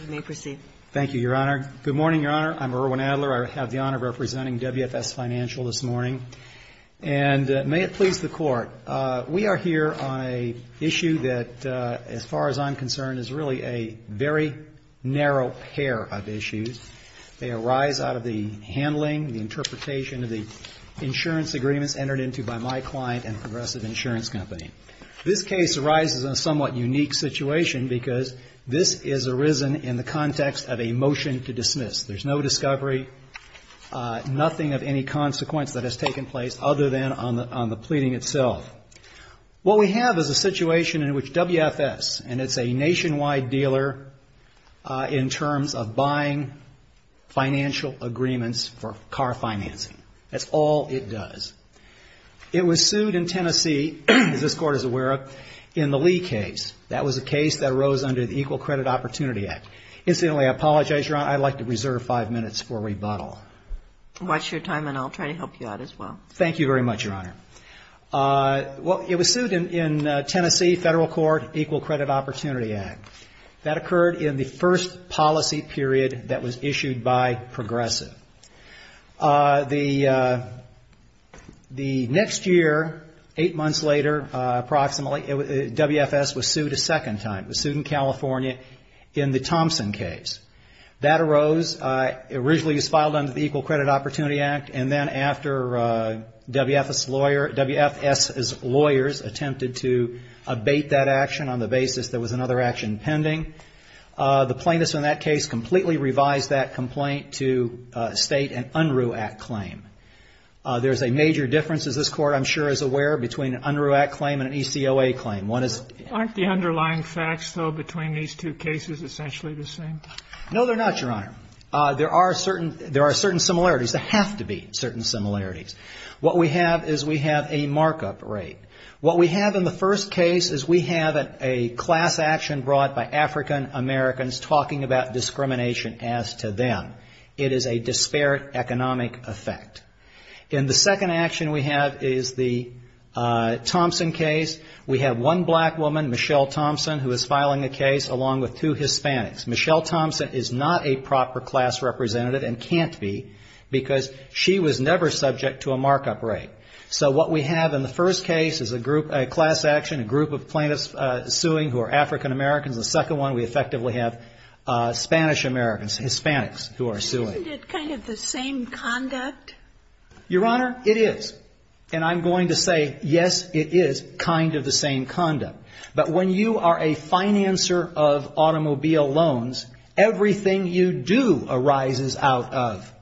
We may proceed. Thank you, Your Honor. Good morning, Your Honor. I'm Erwin Adler. I have the honor of representing WFS FINANCIAL this morning, and may it please the Court. We are here on an issue that, as far as I'm concerned, is really a very narrow pair of issues. They arise out of the handling, the interpretation of the insurance agreements entered into by my client and Progressive Insurance Company. This case arises in a somewhat unique situation because this is arisen in the context of a motion to dismiss. There's no discovery, nothing of any consequence that has taken place other than on the pleading itself. What we have is a situation in which WFS, and it's a nationwide dealer in terms of buying financial agreements for car financing. That's all it does. It was sued in Tennessee, as this Court is aware of, in the Lee case. That was a case that arose under the Equal Credit Opportunity Act. Incidentally, I apologize, Your Honor, I'd like to reserve five minutes for rebuttal. Watch your time, and I'll try to help you out as well. Thank you very much, Your Honor. Well, it was sued in Tennessee, Federal Court, Equal Credit Opportunity Act. That occurred in the first policy period that was issued by Progressive. The next year, eight months later approximately, WFS was sued a second time. It was sued in California in the Thompson case. That arose, originally it was filed under the Equal Credit Opportunity Act, and then after WFS's lawyers attempted to abate that action on the basis there was another action pending, the plaintiffs in that case completely revised that complaint to state an UNRU Act claim. There's a major difference, as this Court, I'm sure, is aware, between an UNRU Act claim and an ECOA claim. Aren't the underlying facts, though, between these two cases essentially the same? No, they're not, Your Honor. There are certain similarities. There have to be certain similarities. What we have is we have a markup rate. What we have in the first case is we have a class action brought by African Americans talking about discrimination as to them. It is a disparate economic effect. In the second action we have is the Thompson case. We have one black woman, Michelle Thompson, who is filing a case along with two Hispanics. Michelle Thompson is not a proper class representative and can't be because she was never subject to a markup rate. So what we have in the first case is a group, a class action, a group of plaintiffs suing who are African Americans. The second one we effectively have Spanish Americans, Hispanics, who are suing. Isn't it kind of the same conduct? Your Honor, it is. And I'm going to say, yes, it is kind of the same conduct. But when you are a financer of automobile loans, everything you do arises out of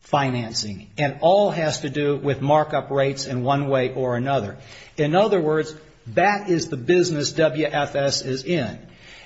financing. And all has to do with markup rates in one way or another. In other words, that is the business WFS is in.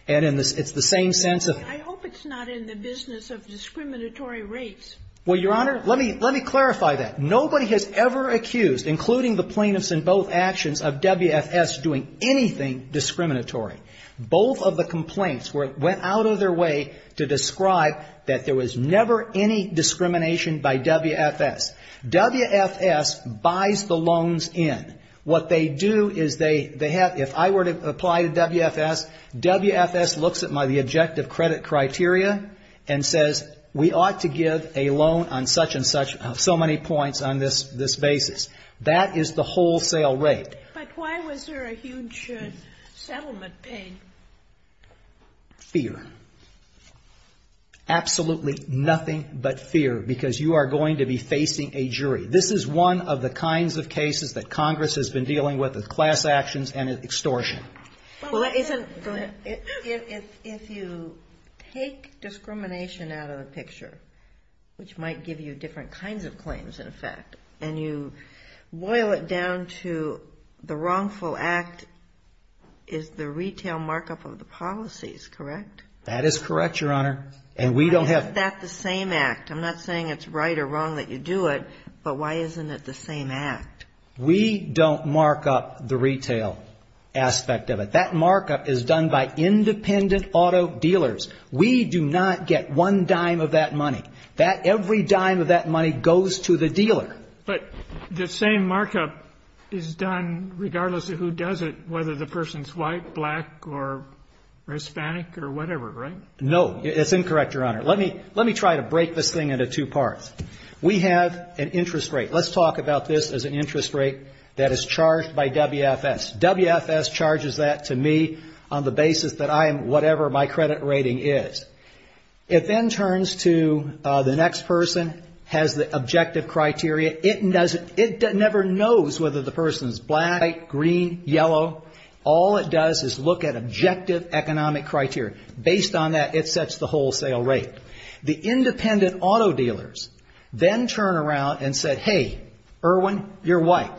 And it's the same sense of I hope it's not in the business of discriminatory rates. Well, Your Honor, let me clarify that. Nobody has ever accused, including the plaintiffs in both actions, of WFS doing anything discriminatory. Both of the complaints went out of their way to describe that there was never any discrimination by WFS. WFS buys the loans in. What they do is they have, if I were to apply to WFS, WFS looks at the objective credit criteria and says, we ought to give a loan on such and such, so many points on this basis. That is the wholesale rate. But why was there a huge settlement paid? Fear. Absolutely nothing but fear, because you are going to be facing a jury. This is one of the kinds of cases that Congress has been dealing with, with class actions and extortion. If you take discrimination out of the picture, which might give you different kinds of claims in effect, and you boil it down to the wrongful act is the retail markup of the policies, correct? That is correct, Your Honor. And we don't have Is that the same act? I'm not saying it's right or wrong that you do it, but why isn't it the same act? We don't mark up the retail aspect of it. That markup is done by independent auto dealers. We do not get one dime of that money. That every dime of that money goes to the dealer. But the same markup is done regardless of who does it, whether the person is white, black, or Hispanic, or whatever, right? No, that's incorrect, Your Honor. Let me try to break this thing into two parts. We have an interest rate. Let's talk about this as an interest rate that is charged by WFS. WFS charges that to me on the basis that I am whatever my credit rating is. It then turns to the next person, has the objective criteria. It never knows whether the person is black, white, green, yellow. All it does is look at objective economic criteria. Based on that, it sets the wholesale rate. The independent auto dealers then turn around and say, hey, Irwin, you're white.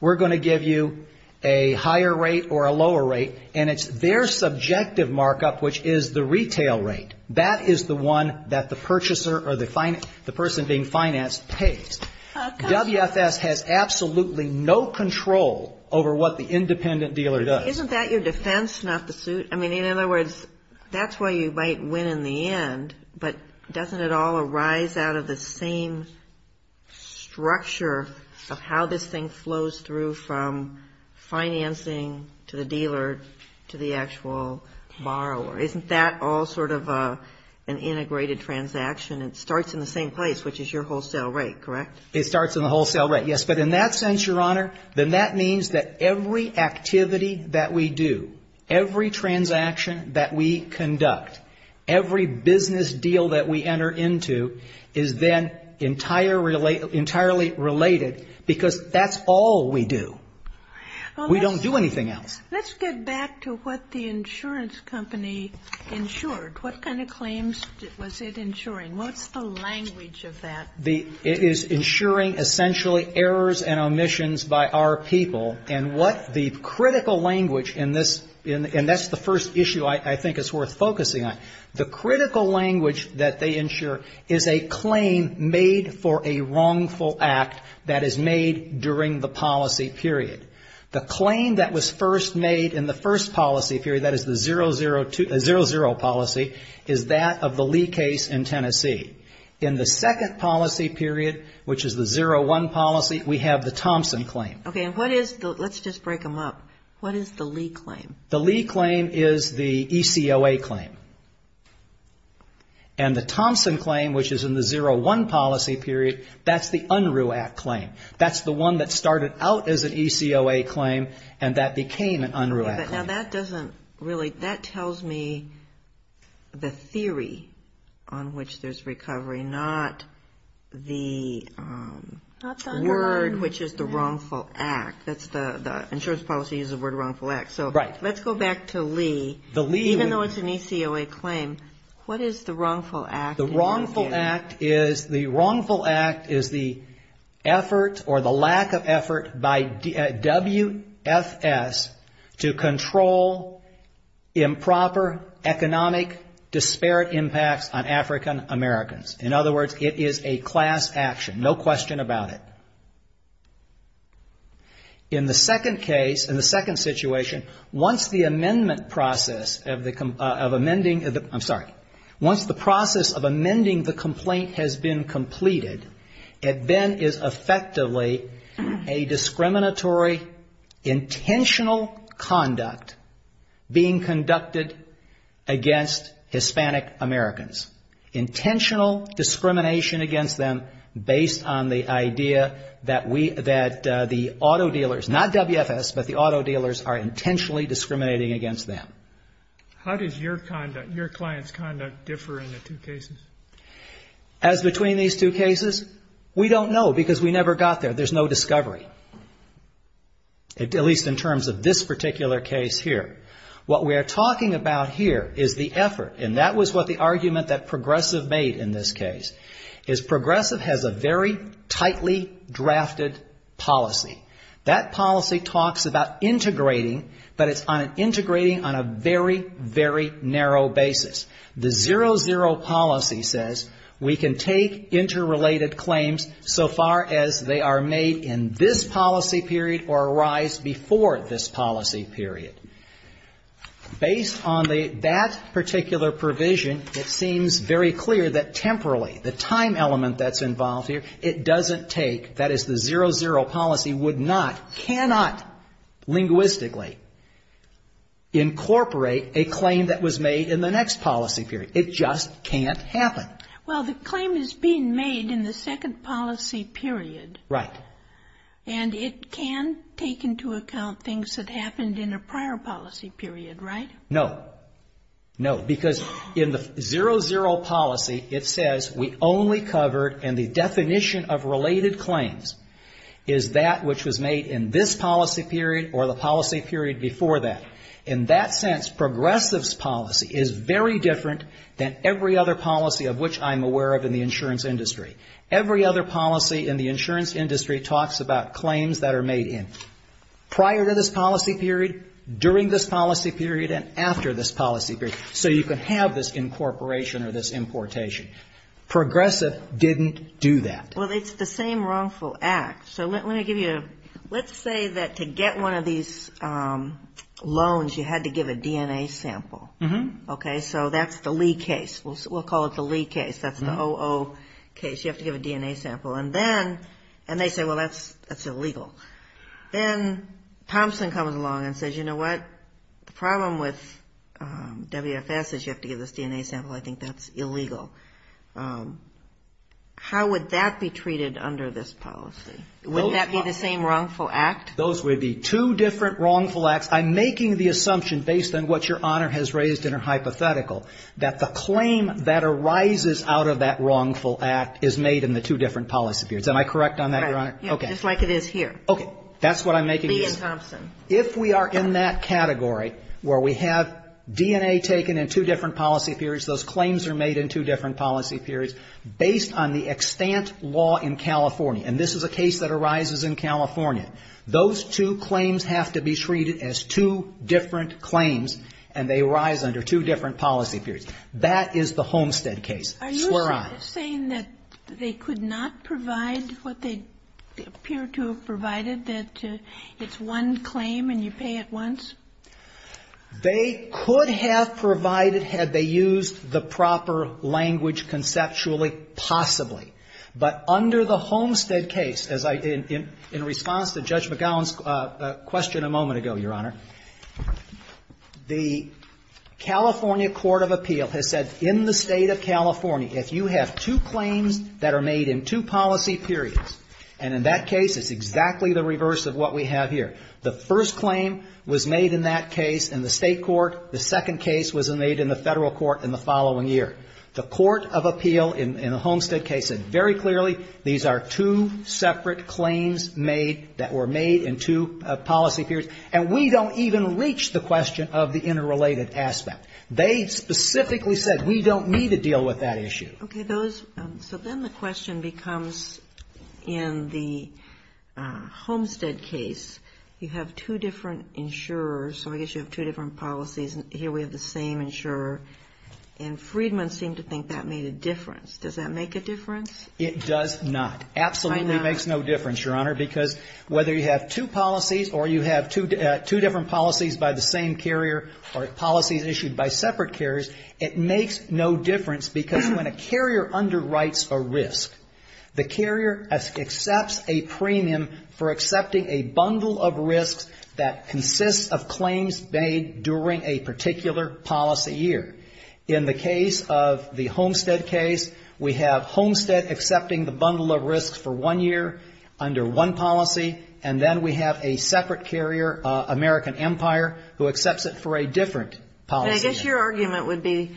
We're going to give you a higher rate or a lower rate, and it's their subjective markup, which is the retail rate. That is the one that the purchaser or the person being financed pays. WFS has absolutely no control over what the independent dealer does. Isn't that your defense, not the suit? I mean, in other words, that's why you might win in the end. But doesn't it all arise out of the same structure of how this thing flows through from financing to the dealer to the actual borrower? Isn't that all sort of an integrated transaction? It starts in the same place, which is your wholesale rate, correct? It starts in the wholesale rate, yes. But in that sense, Your Honor, then that means that every activity that we do, every transaction that we conduct, every business deal that we enter into is then entirely related because that's all we do. We don't do anything else. Let's get back to what the insurance company insured. What kind of claims was it insuring? What's the language of that? It is insuring essentially errors and omissions by our people. And what the critical language in this, and that's the first issue I think is worth focusing on. The critical language that they insure is a claim made for a wrongful act that is made during the policy period. The claim that was first made in the first policy period, that is the 00 policy, is that of the Lee case in Tennessee. In the second policy period, which is the 01 policy, we have the Thompson claim. Okay, let's just break them up. What is the Lee claim? The Lee claim is the ECOA claim. And the Thompson claim, which is in the 01 policy period, that's the Unruh Act claim. That's the one that started out as an ECOA claim and that became an Unruh Act claim. Now that doesn't really, that tells me the theory on which there's recovery, not the word, which is the wrongful act. That's the insurance policy is the word wrongful act. So let's go back to Lee. Even though it's an ECOA claim, what is the wrongful act? The wrongful act is the effort or the lack of effort by WFS to control improper economic disparate impacts on African Americans. In other words, it is a class action, no question about it. In the second case, in the second situation, once the amendment process of amending, I'm sorry, once the process of amending the complaint has been completed, it then is effectively a discriminatory, intentional conduct being conducted against Hispanic Americans. Intentional discrimination against them based on the idea that we, that the auto dealers, not WFS, but the auto dealers are intentionally discriminating against them. How does your conduct, your client's conduct differ in the two cases? As between these two cases, we don't know because we never got there. There's no discovery. At least in terms of this particular case here. What we are talking about here is the effort, and that was what the argument that Progressive made in this case, is Progressive has a very tightly drafted policy. That policy talks about integrating, but it's on an integrating on a very, very narrow basis. The zero, zero policy says we can take interrelated claims so far as they are made in this policy period or arise before this policy period. Based on that particular provision, it seems very clear that temporarily, the time element that's involved here, it doesn't take, that is the zero, zero policy would not, cannot, linguistically, incorporate a claim that was made in the next policy period. It just can't happen. Well, the claim is being made in the second policy period. Right. And it can take into account things that happened in a prior policy period, right? No. No. Because in the zero, zero policy, it says we only covered, and the definition of related claims, is that which was made in this policy period or the policy period before that. In that sense, Progressive's policy is very different than every other policy of which I'm aware of in the insurance industry. Every other policy in the insurance industry talks about claims that are made in prior to this policy period, during this policy period, and after this policy period. So you can have this incorporation or this importation. Progressive didn't do that. Well, it's the same wrongful act. So let me give you a, let's say that to get one of these loans, you had to give a DNA sample. Okay. So that's the Lee case. We'll call it the Lee case. That's the OO case. You have to give a DNA sample. And then, and they say, well, that's illegal. Then Thompson comes along and says, you know what? The problem with WFS is you have to give this DNA sample. I think that's illegal. How would that be treated under this policy? Wouldn't that be the same wrongful act? Those would be two different wrongful acts. I'm making the assumption, based on what Your Honor has raised in her hypothetical, that the claim that arises out of that wrongful act is made in the two different policy periods. Am I correct on that, Your Honor? Just like it is here. Okay. That's what I'm making. Lee and Thompson. If we are in that category where we have DNA taken in two different policy periods, those claims are made in two different policy periods, based on the extant law in California. And this is a case that arises in California. Those two claims have to be treated as two different claims, and they arise under two different policy periods. That is the Homestead case. Swear on. Are you saying that they could not provide what they appear to have provided, that it's one claim and you pay it once? They could have provided had they used the proper language conceptually, possibly. But under the Homestead case, as I did in response to Judge McGowan's question a moment ago, Your Honor, the California Court of Appeal has said in the State of California, if you have two claims that are made in two policy periods, and in that case it's exactly the reverse of what we have here. The first claim was made in that case in the State court. The second case was made in the Federal court in the following year. The Court of Appeal in the Homestead case said very clearly these are two separate claims made that were made in two policy periods, and we don't even reach the question of the interrelated aspect. They specifically said we don't need to deal with that issue. Okay. So then the question becomes in the Homestead case, you have two different insurers, so I guess you have two different policies, and here we have the same insurer. And Freedman seemed to think that made a difference. Does that make a difference? It does not. Absolutely makes no difference, Your Honor, because whether you have two policies or you have two different policies by the same carrier or policies issued by separate carriers, it makes no difference because when a carrier underwrites a risk, the carrier accepts a premium for accepting a bundle of risks that consists of claims made during a particular policy year. In the case of the Homestead case, we have Homestead accepting the bundle of risks for one year under one policy, and then we have a separate carrier, American Empire, who accepts it for a different policy year. And I guess your argument would be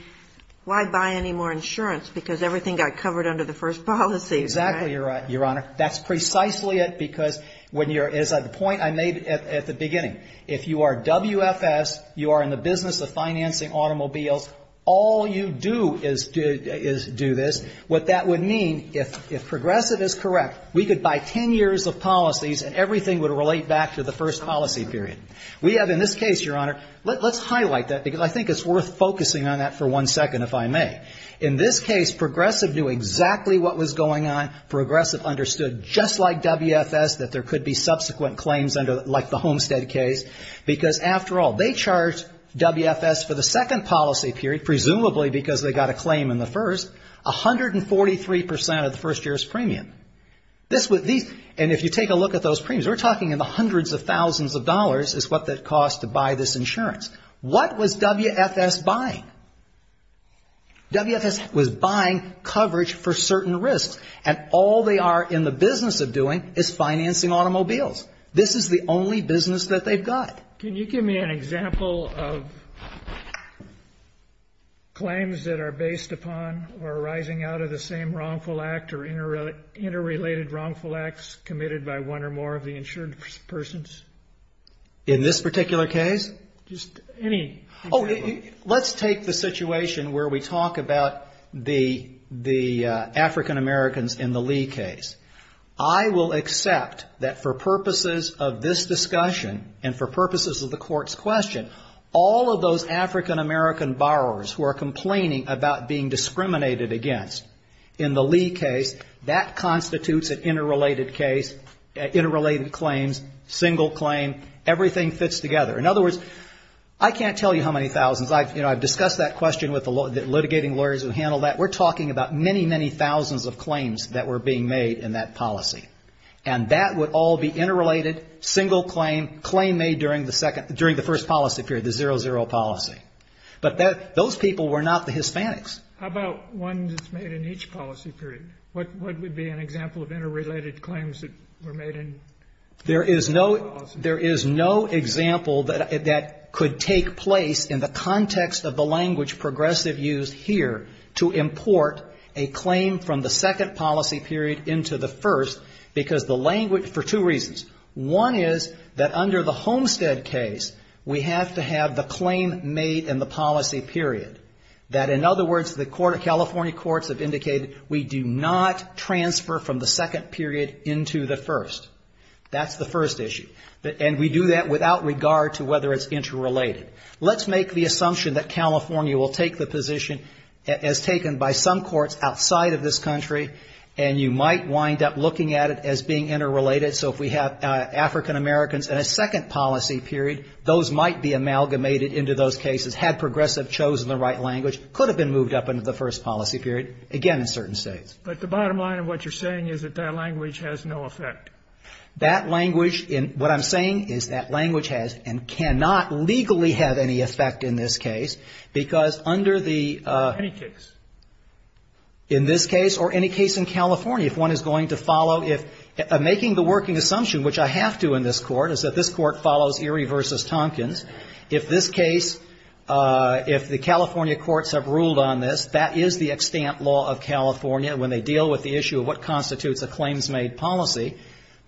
why buy any more insurance, because everything got covered under the first policy, right? Exactly, Your Honor. That's precisely it, because when you're at the point I made at the beginning. If you are WFS, you are in the business of financing automobiles, all you do is do this. What that would mean, if Progressive is correct, we could buy ten years of policies and everything would relate back to the first policy period. We have in this case, Your Honor, let's highlight that, because I think it's worth focusing on that for one second, if I may. In this case, Progressive knew exactly what was going on. Progressive understood just like WFS that there could be subsequent claims like the Homestead case, because after all, they charged WFS for the second policy period, presumably because they got a claim in the first, 143% of the first year's premium. And if you take a look at those premiums, we're talking in the hundreds of thousands of dollars is what that costs to buy this insurance. What was WFS buying? WFS was buying coverage for certain risks, and all they are in the business of doing is financing automobiles. This is the only business that they've got. Can you give me an example of claims that are based upon or arising out of the same wrongful act or interrelated wrongful acts committed by one or more of the insured persons? In this particular case? Just any example. Oh, let's take the situation where we talk about the African Americans in the Lee case. I will accept that for purposes of this discussion and for purposes of the court's question, all of those African American borrowers who are complaining about being discriminated against in the Lee case, that constitutes an interrelated case, interrelated claims, single claim, everything fits together. In other words, I can't tell you how many thousands. I've discussed that question with the litigating lawyers who handle that. We're talking about many, many thousands of claims that were being made in that policy, and that would all be interrelated, single claim, claim made during the first policy period, the 00 policy. But those people were not the Hispanics. How about ones made in each policy period? What would be an example of interrelated claims that were made in the 00 policy period? There is no example that could take place in the context of the language progressive used here to import a claim from the second policy period into the first because the language, for two reasons. One is that under the Homestead case, we have to have the claim made in the policy period. That, in other words, the California courts have indicated we do not transfer from the second period into the first. That's the first issue. And we do that without regard to whether it's interrelated. Let's make the assumption that California will take the position as taken by some courts outside of this country, and you might wind up looking at it as being interrelated. So if we have African-Americans in a second policy period, those might be amalgamated into those cases, had progressive chosen the right language, could have been moved up into the first policy period, again, in certain states. But the bottom line of what you're saying is that that language has no effect. That language, what I'm saying is that language has and cannot legally have any effect in this case because under the... Any case. In this case or any case in California, if one is going to follow... I'm making the working assumption, which I have to in this Court, is that this Court follows Erie v. Tompkins. If this case, if the California courts have ruled on this, that is the extant law of California when they deal with the issue of what constitutes a claims-made policy,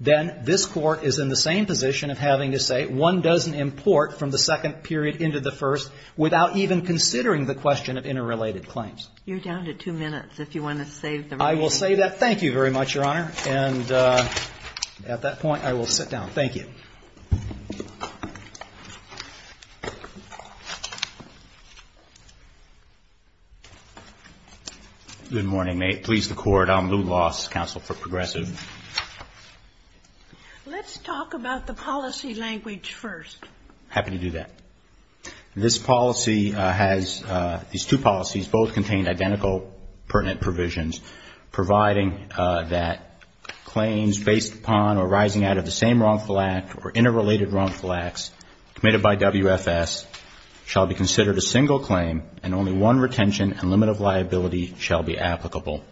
then this Court is in the same position of having to say, one doesn't import from the second period into the first without even considering the question of interrelated claims. You're down to two minutes if you want to save the... I will save that. Thank you very much, Your Honor. And at that point, I will sit down. Thank you. Good morning. May it please the Court, I'm Lew Loss, counsel for Progressive. Let's talk about the policy language first. Happy to do that. This policy has, these two policies both contain identical pertinent provisions providing that claims based upon or arising out of the same wrongful act or interrelated wrongful acts committed by WFS shall be considered a single claim and only one retention and limit of liability shall be applicable.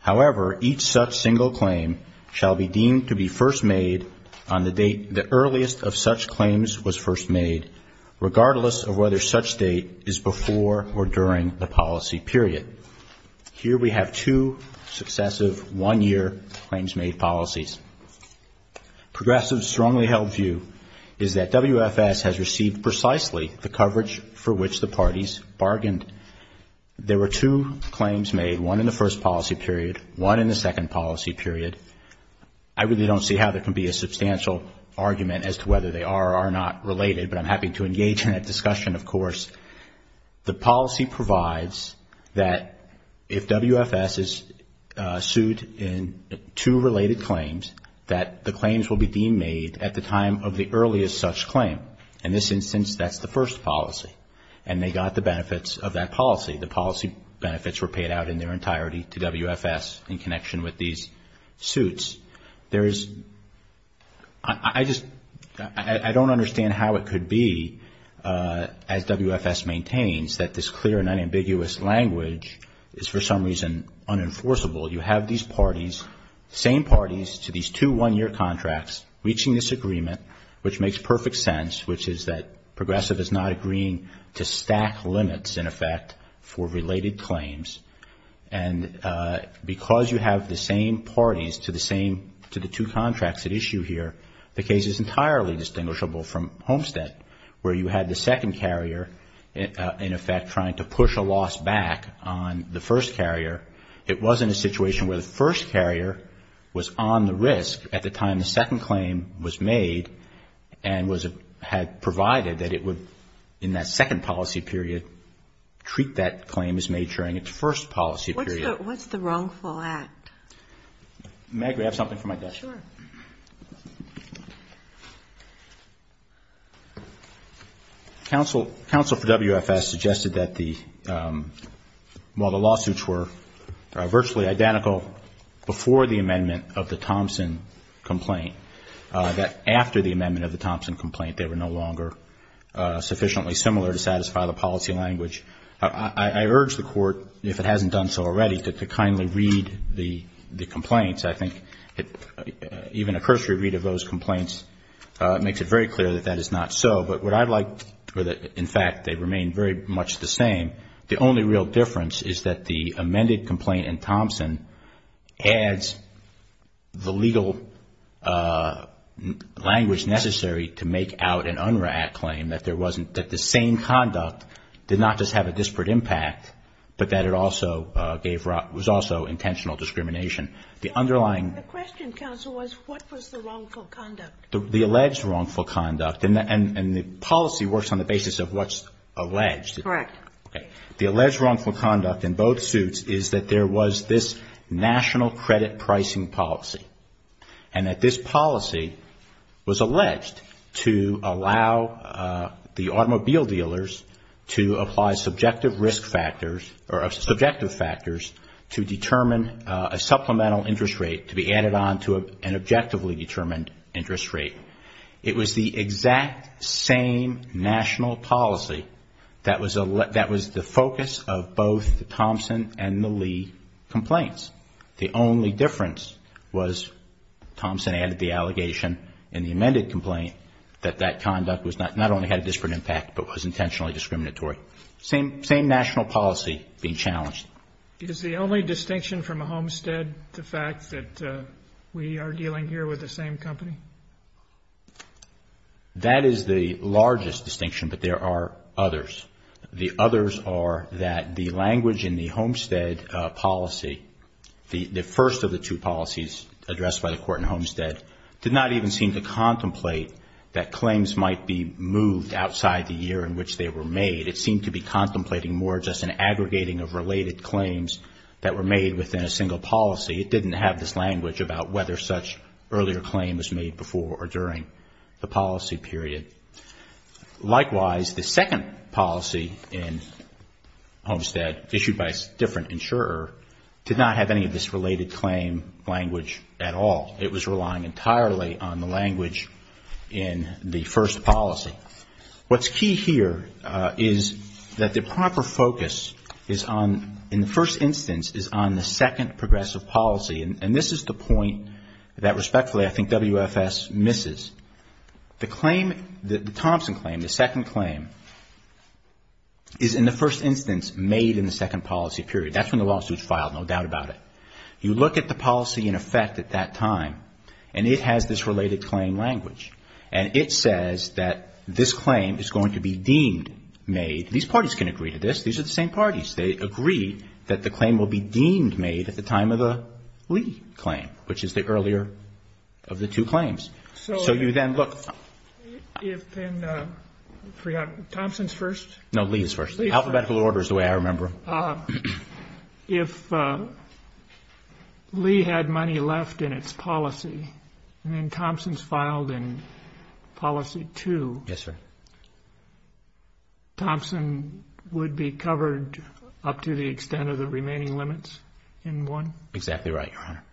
However, each such single claim shall be deemed to be first made on the date the earliest of such claims was first made, regardless of whether such date is successive one-year claims made policies. Progressive's strongly held view is that WFS has received precisely the coverage for which the parties bargained. There were two claims made, one in the first policy period, one in the second policy period. I really don't see how there can be a substantial argument as to whether they are or are not related, but I'm happy to engage in that discussion, of course. The policy provides that if WFS is sued in two related claims, that the claims will be deemed made at the time of the earliest such claim. In this instance, that's the first policy. And they got the benefits of that policy. The policy benefits were paid out in their entirety to WFS in connection with these suits. I just don't understand how it could be, as WFS maintains, that this clear and unambiguous language is for some reason unenforceable. You have these parties, same parties to these two one-year contracts, reaching this agreement, which makes perfect sense, which is that Progressive is not agreeing to stack limits, in effect, for related claims. And because you have the same parties to the two contracts at issue here, the case is entirely distinguishable from Homestead, where you had the second carrier, in effect, trying to push a loss back on the first carrier. It wasn't a situation where the first carrier was on the risk at the time the second claim was made and had provided that it would, in that second policy period, treat that claim as made during its first policy period. What's the wrongful act? Counsel for WFS suggested that while the lawsuits were virtually identical before the amendment of the Thompson complaint, that after the amendment of the Thompson complaint, they were no longer sufficiently similar to satisfy the policy language. I urge the Court, if it hasn't done so already, to kindly read the complaints. I think even a cursory read of those complaints makes it very clear that that is not so. But what I'd like to, in fact, they remain very much the same. The only real difference is that the amended complaint in Thompson adds the legal, in effect, language necessary to make out an unwrought claim, that there wasn't, that the same conduct did not just have a disparate impact, but that it also gave, was also intentional discrimination. The underlying question, Counsel, was what was the wrongful conduct? The alleged wrongful conduct, and the policy works on the basis of what's alleged. Correct. The alleged wrongful conduct in both suits is that there was this national credit pricing policy, and that this policy was alleged to allow the automobile dealers to apply subjective risk factors, or subjective factors, to determine a supplemental interest rate to be added on to an objectively determined interest rate. It was the exact same national policy that was the focus of both the Thompson and the Lee complaints. The only difference was Thompson added the allegation in the amended complaint that that conduct not only had a disparate impact, but was intentionally discriminatory. Same national policy being challenged. Is the only distinction from Homestead the fact that we are dealing here with the same company? That is the largest distinction, but there are others. The others are that the language in the Homestead policy, the first of the two policies addressed by the court in Homestead, did not even seem to contemplate that claims might be moved outside the year in which they were made. It seemed to be contemplating more just an aggregating of related claims that were made within a single policy. It didn't have this language about whether such earlier claim was made before or during the policy period. Likewise, the second policy in Homestead, issued by a different insurer, did not have any of this related claim language at all. It was relying entirely on the language in the first policy. What's key here is that the proper focus is on, in the first instance, is on the second progressive policy. And this is the point that, respectfully, I think WFS misses. The claim, the Thompson claim, the second claim, is in the first instance made in the second policy period. That's when the lawsuit is filed, no doubt about it. You look at the policy in effect at that time, and it has this related claim language. And it says that this claim is going to be deemed made. These parties can agree to this. These are the same parties. They agree that the claim will be deemed made at the time of the Lee claim, which is the earlier of the two claims. So you then look... Thompson's first? No, Lee's first. The alphabetical order is the way I remember them. If Lee had money left in its policy, and then Thompson's filed in policy two, Thompson would be covered up to the extent of the remaining limits in one? Exactly right, Your Honor.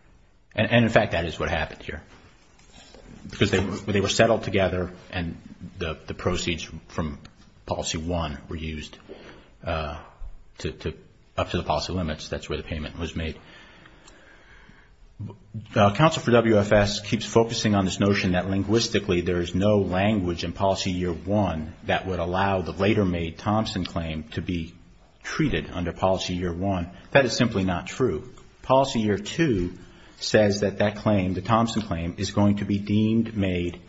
And in fact, that is what happened here. Because they were settled together, and the proceeds from policy one were used up to the policy limits. That's where the payment was made. Counsel for WFS keeps focusing on this notion that linguistically there is no language in policy year one that would allow the later made Thompson claim to be treated under policy year one. That is simply not true. Policy year two says that that claim, the Thompson claim, is going to be deemed made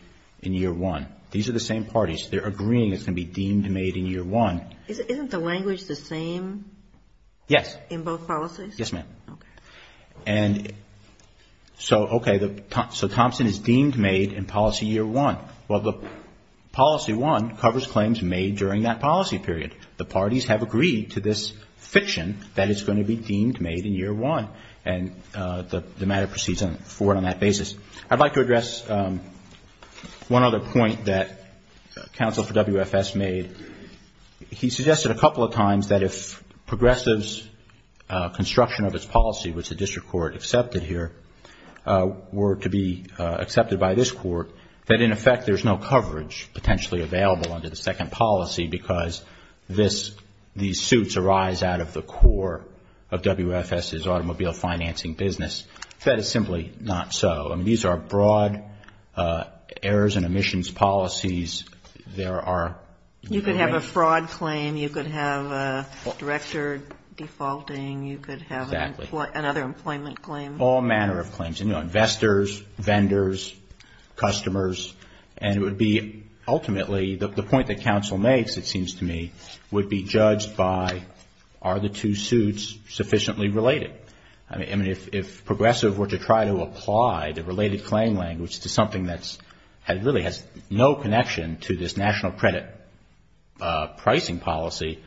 in year one. These are the same parties. They're agreeing it's going to be deemed made in year one. Isn't the language the same in both policies? Yes, ma'am. So Thompson is deemed made in policy year one. Well, policy one covers claims made during that policy period. The parties have agreed to this fiction that it's going to be deemed made in year one. And the matter proceeds forward on that basis. I'd like to address one other point that counsel for WFS made. He suggested a couple of times that if progressives' construction of its policy, which the district court accepted here, were to be accepted by this court, that in effect there's no coverage potentially available under the second policy, because these suits arise out of the core of WFS's automobile financing business. That is simply not so. You could have a fraud claim. You could have a director defaulting. You could have another employment claim. All manner of claims, you know, investors, vendors, customers. And it would be ultimately the point that counsel makes, it seems to me, would be judged by are the two suits sufficiently related. I mean, if progressives were to try to apply the related claim language to something that really has no connection to this national credit pricing policy,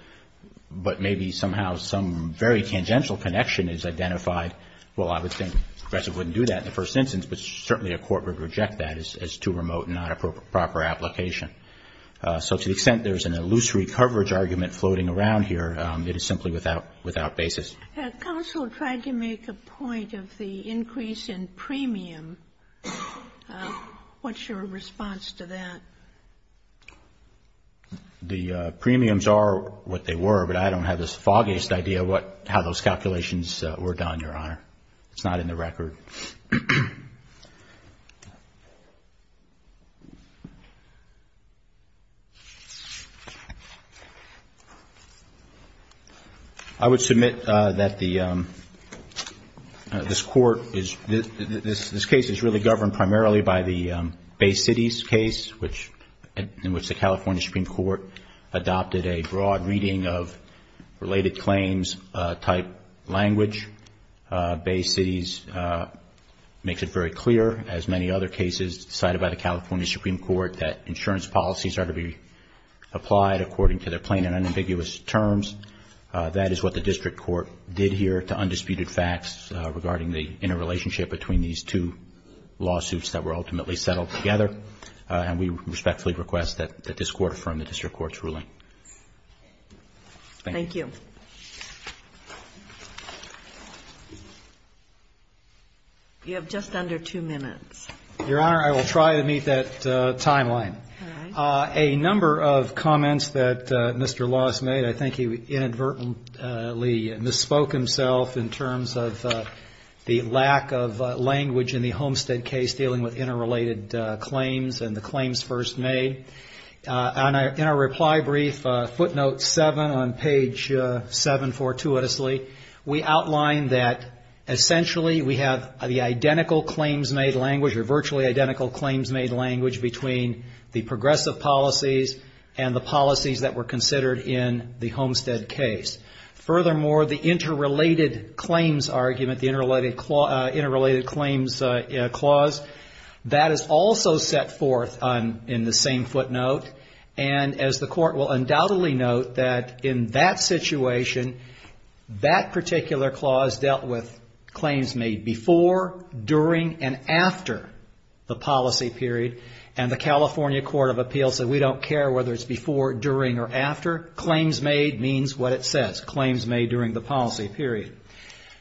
but maybe somehow some very tangential connection is identified, well, I would think progressives wouldn't do that in the first instance, but certainly a court would reject that as too remote and not a proper application. So to the extent there's an illusory coverage argument floating around here, it is simply without basis. Have counsel tried to make a point of the increase in premium? What's your response to that? The premiums are what they were, but I don't have the foggiest idea how those calculations were done, Your Honor. It's not in the record. I would submit that this court is, this case is really governed primarily by the Bay Cities case, in which the California Supreme Court adopted a broad reading of related claims type language. Bay Cities makes it very clear, as many other cases cited by the California Supreme Court, that insurance policies are to be applied according to their plain and unambiguous terms. That is what the district court did here to undisputed facts regarding the interrelationship between these two lawsuits that were ultimately settled together, and we respectfully request that this court affirm the district court's ruling. Thank you. You have just under two minutes. Your Honor, I will try to meet that timeline. A number of comments that Mr. Laws made, I think he inadvertently misspoke himself in terms of the lack of language in the Homestead case dealing with interrelated claims and the claims first made. In our reply brief, footnote 7 on page 7, fortuitously, we outline that essentially we have the identical claims-made language, or virtually identical claims-made language, between the progressive policies and the policies that were considered in the Homestead case. Furthermore, the interrelated claims argument, the interrelated claims clause, that is also set forth in the same footnote, and as the court will undoubtedly note, that in that situation, that particular clause dealt with claims made before, during, and after the policy period, and the California Court of Appeals said we don't care whether it's before, during, or after. Claims made means what it says, claims made during the policy period.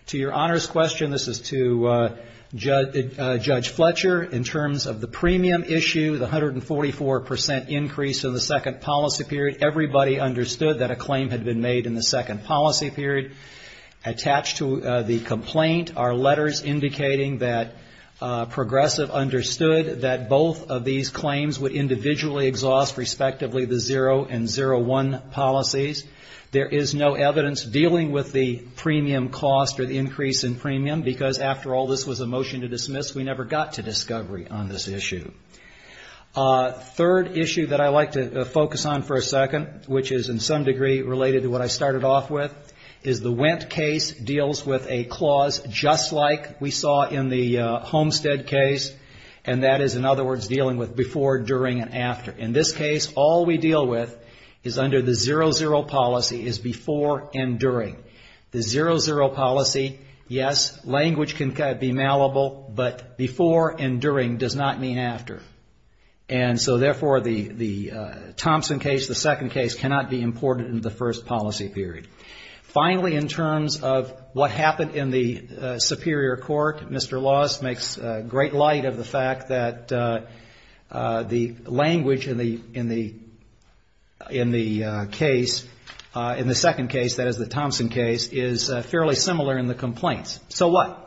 To Your Honor's question, this is to Judge Fletcher, in terms of the premium issue, the 144 percent increase in the second policy period, everybody understood that a claim had been made in the second policy period. Attached to the complaint are letters indicating that progressive understood that both of these claims would individually exhaust, respectively, the 0 and 01 policies. There is no evidence dealing with the premium cost or the increase in premium, because after all, this was a motion to dismiss. We never got to discovery on this issue. Third issue that I'd like to focus on for a second, which is in some degree related to what I started off with, is the Wendt case deals with a clause just like we saw in the Homestead case, and that is, in other words, dealing with before, during, and after. In this case, all we deal with is under the 00 policy is before and during. The 00 policy, yes, language can be malleable, but before and during does not mean after. And so, therefore, the Thompson case, the second case, cannot be imported into the first policy period. Finally, in terms of what happened in the Superior Court, Mr. Laws makes great light of the fact that the language in the case, in the second case, that is the Thompson case, is fairly similar in the complaints. So what?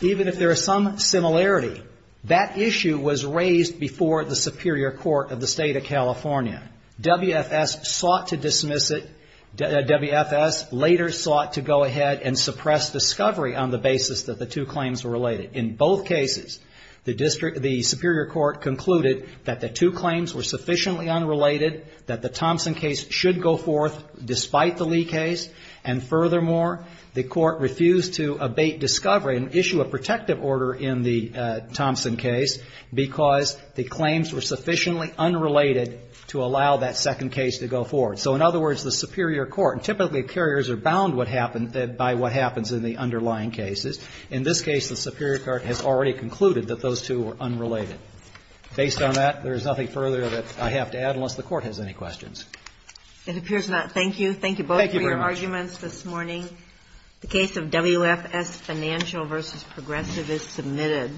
Even if there is some similarity, that issue was raised before the Superior Court of the State of California. WFS sought to dismiss it. WFS later sought to go ahead and suppress discovery on the basis that the two claims were related. In both cases, the Superior Court concluded that the two claims were sufficiently unrelated, that the Thompson case should go forth despite the Lee case, and furthermore, the court refused to abate discovery and issue a protective order in the Thompson case, because the claims were sufficiently unrelated to allow that second case to go forward. So, in other words, the Superior Court, and typically carriers are bound by what happens in the underlying cases. In this case, the Superior Court has already concluded that those two were unrelated. Based on that, there is nothing further that I have to add, unless the Court has any questions. It appears not. Thank you. Thank you both for your arguments this morning. The case of WFS Financial v. Progressive is submitted.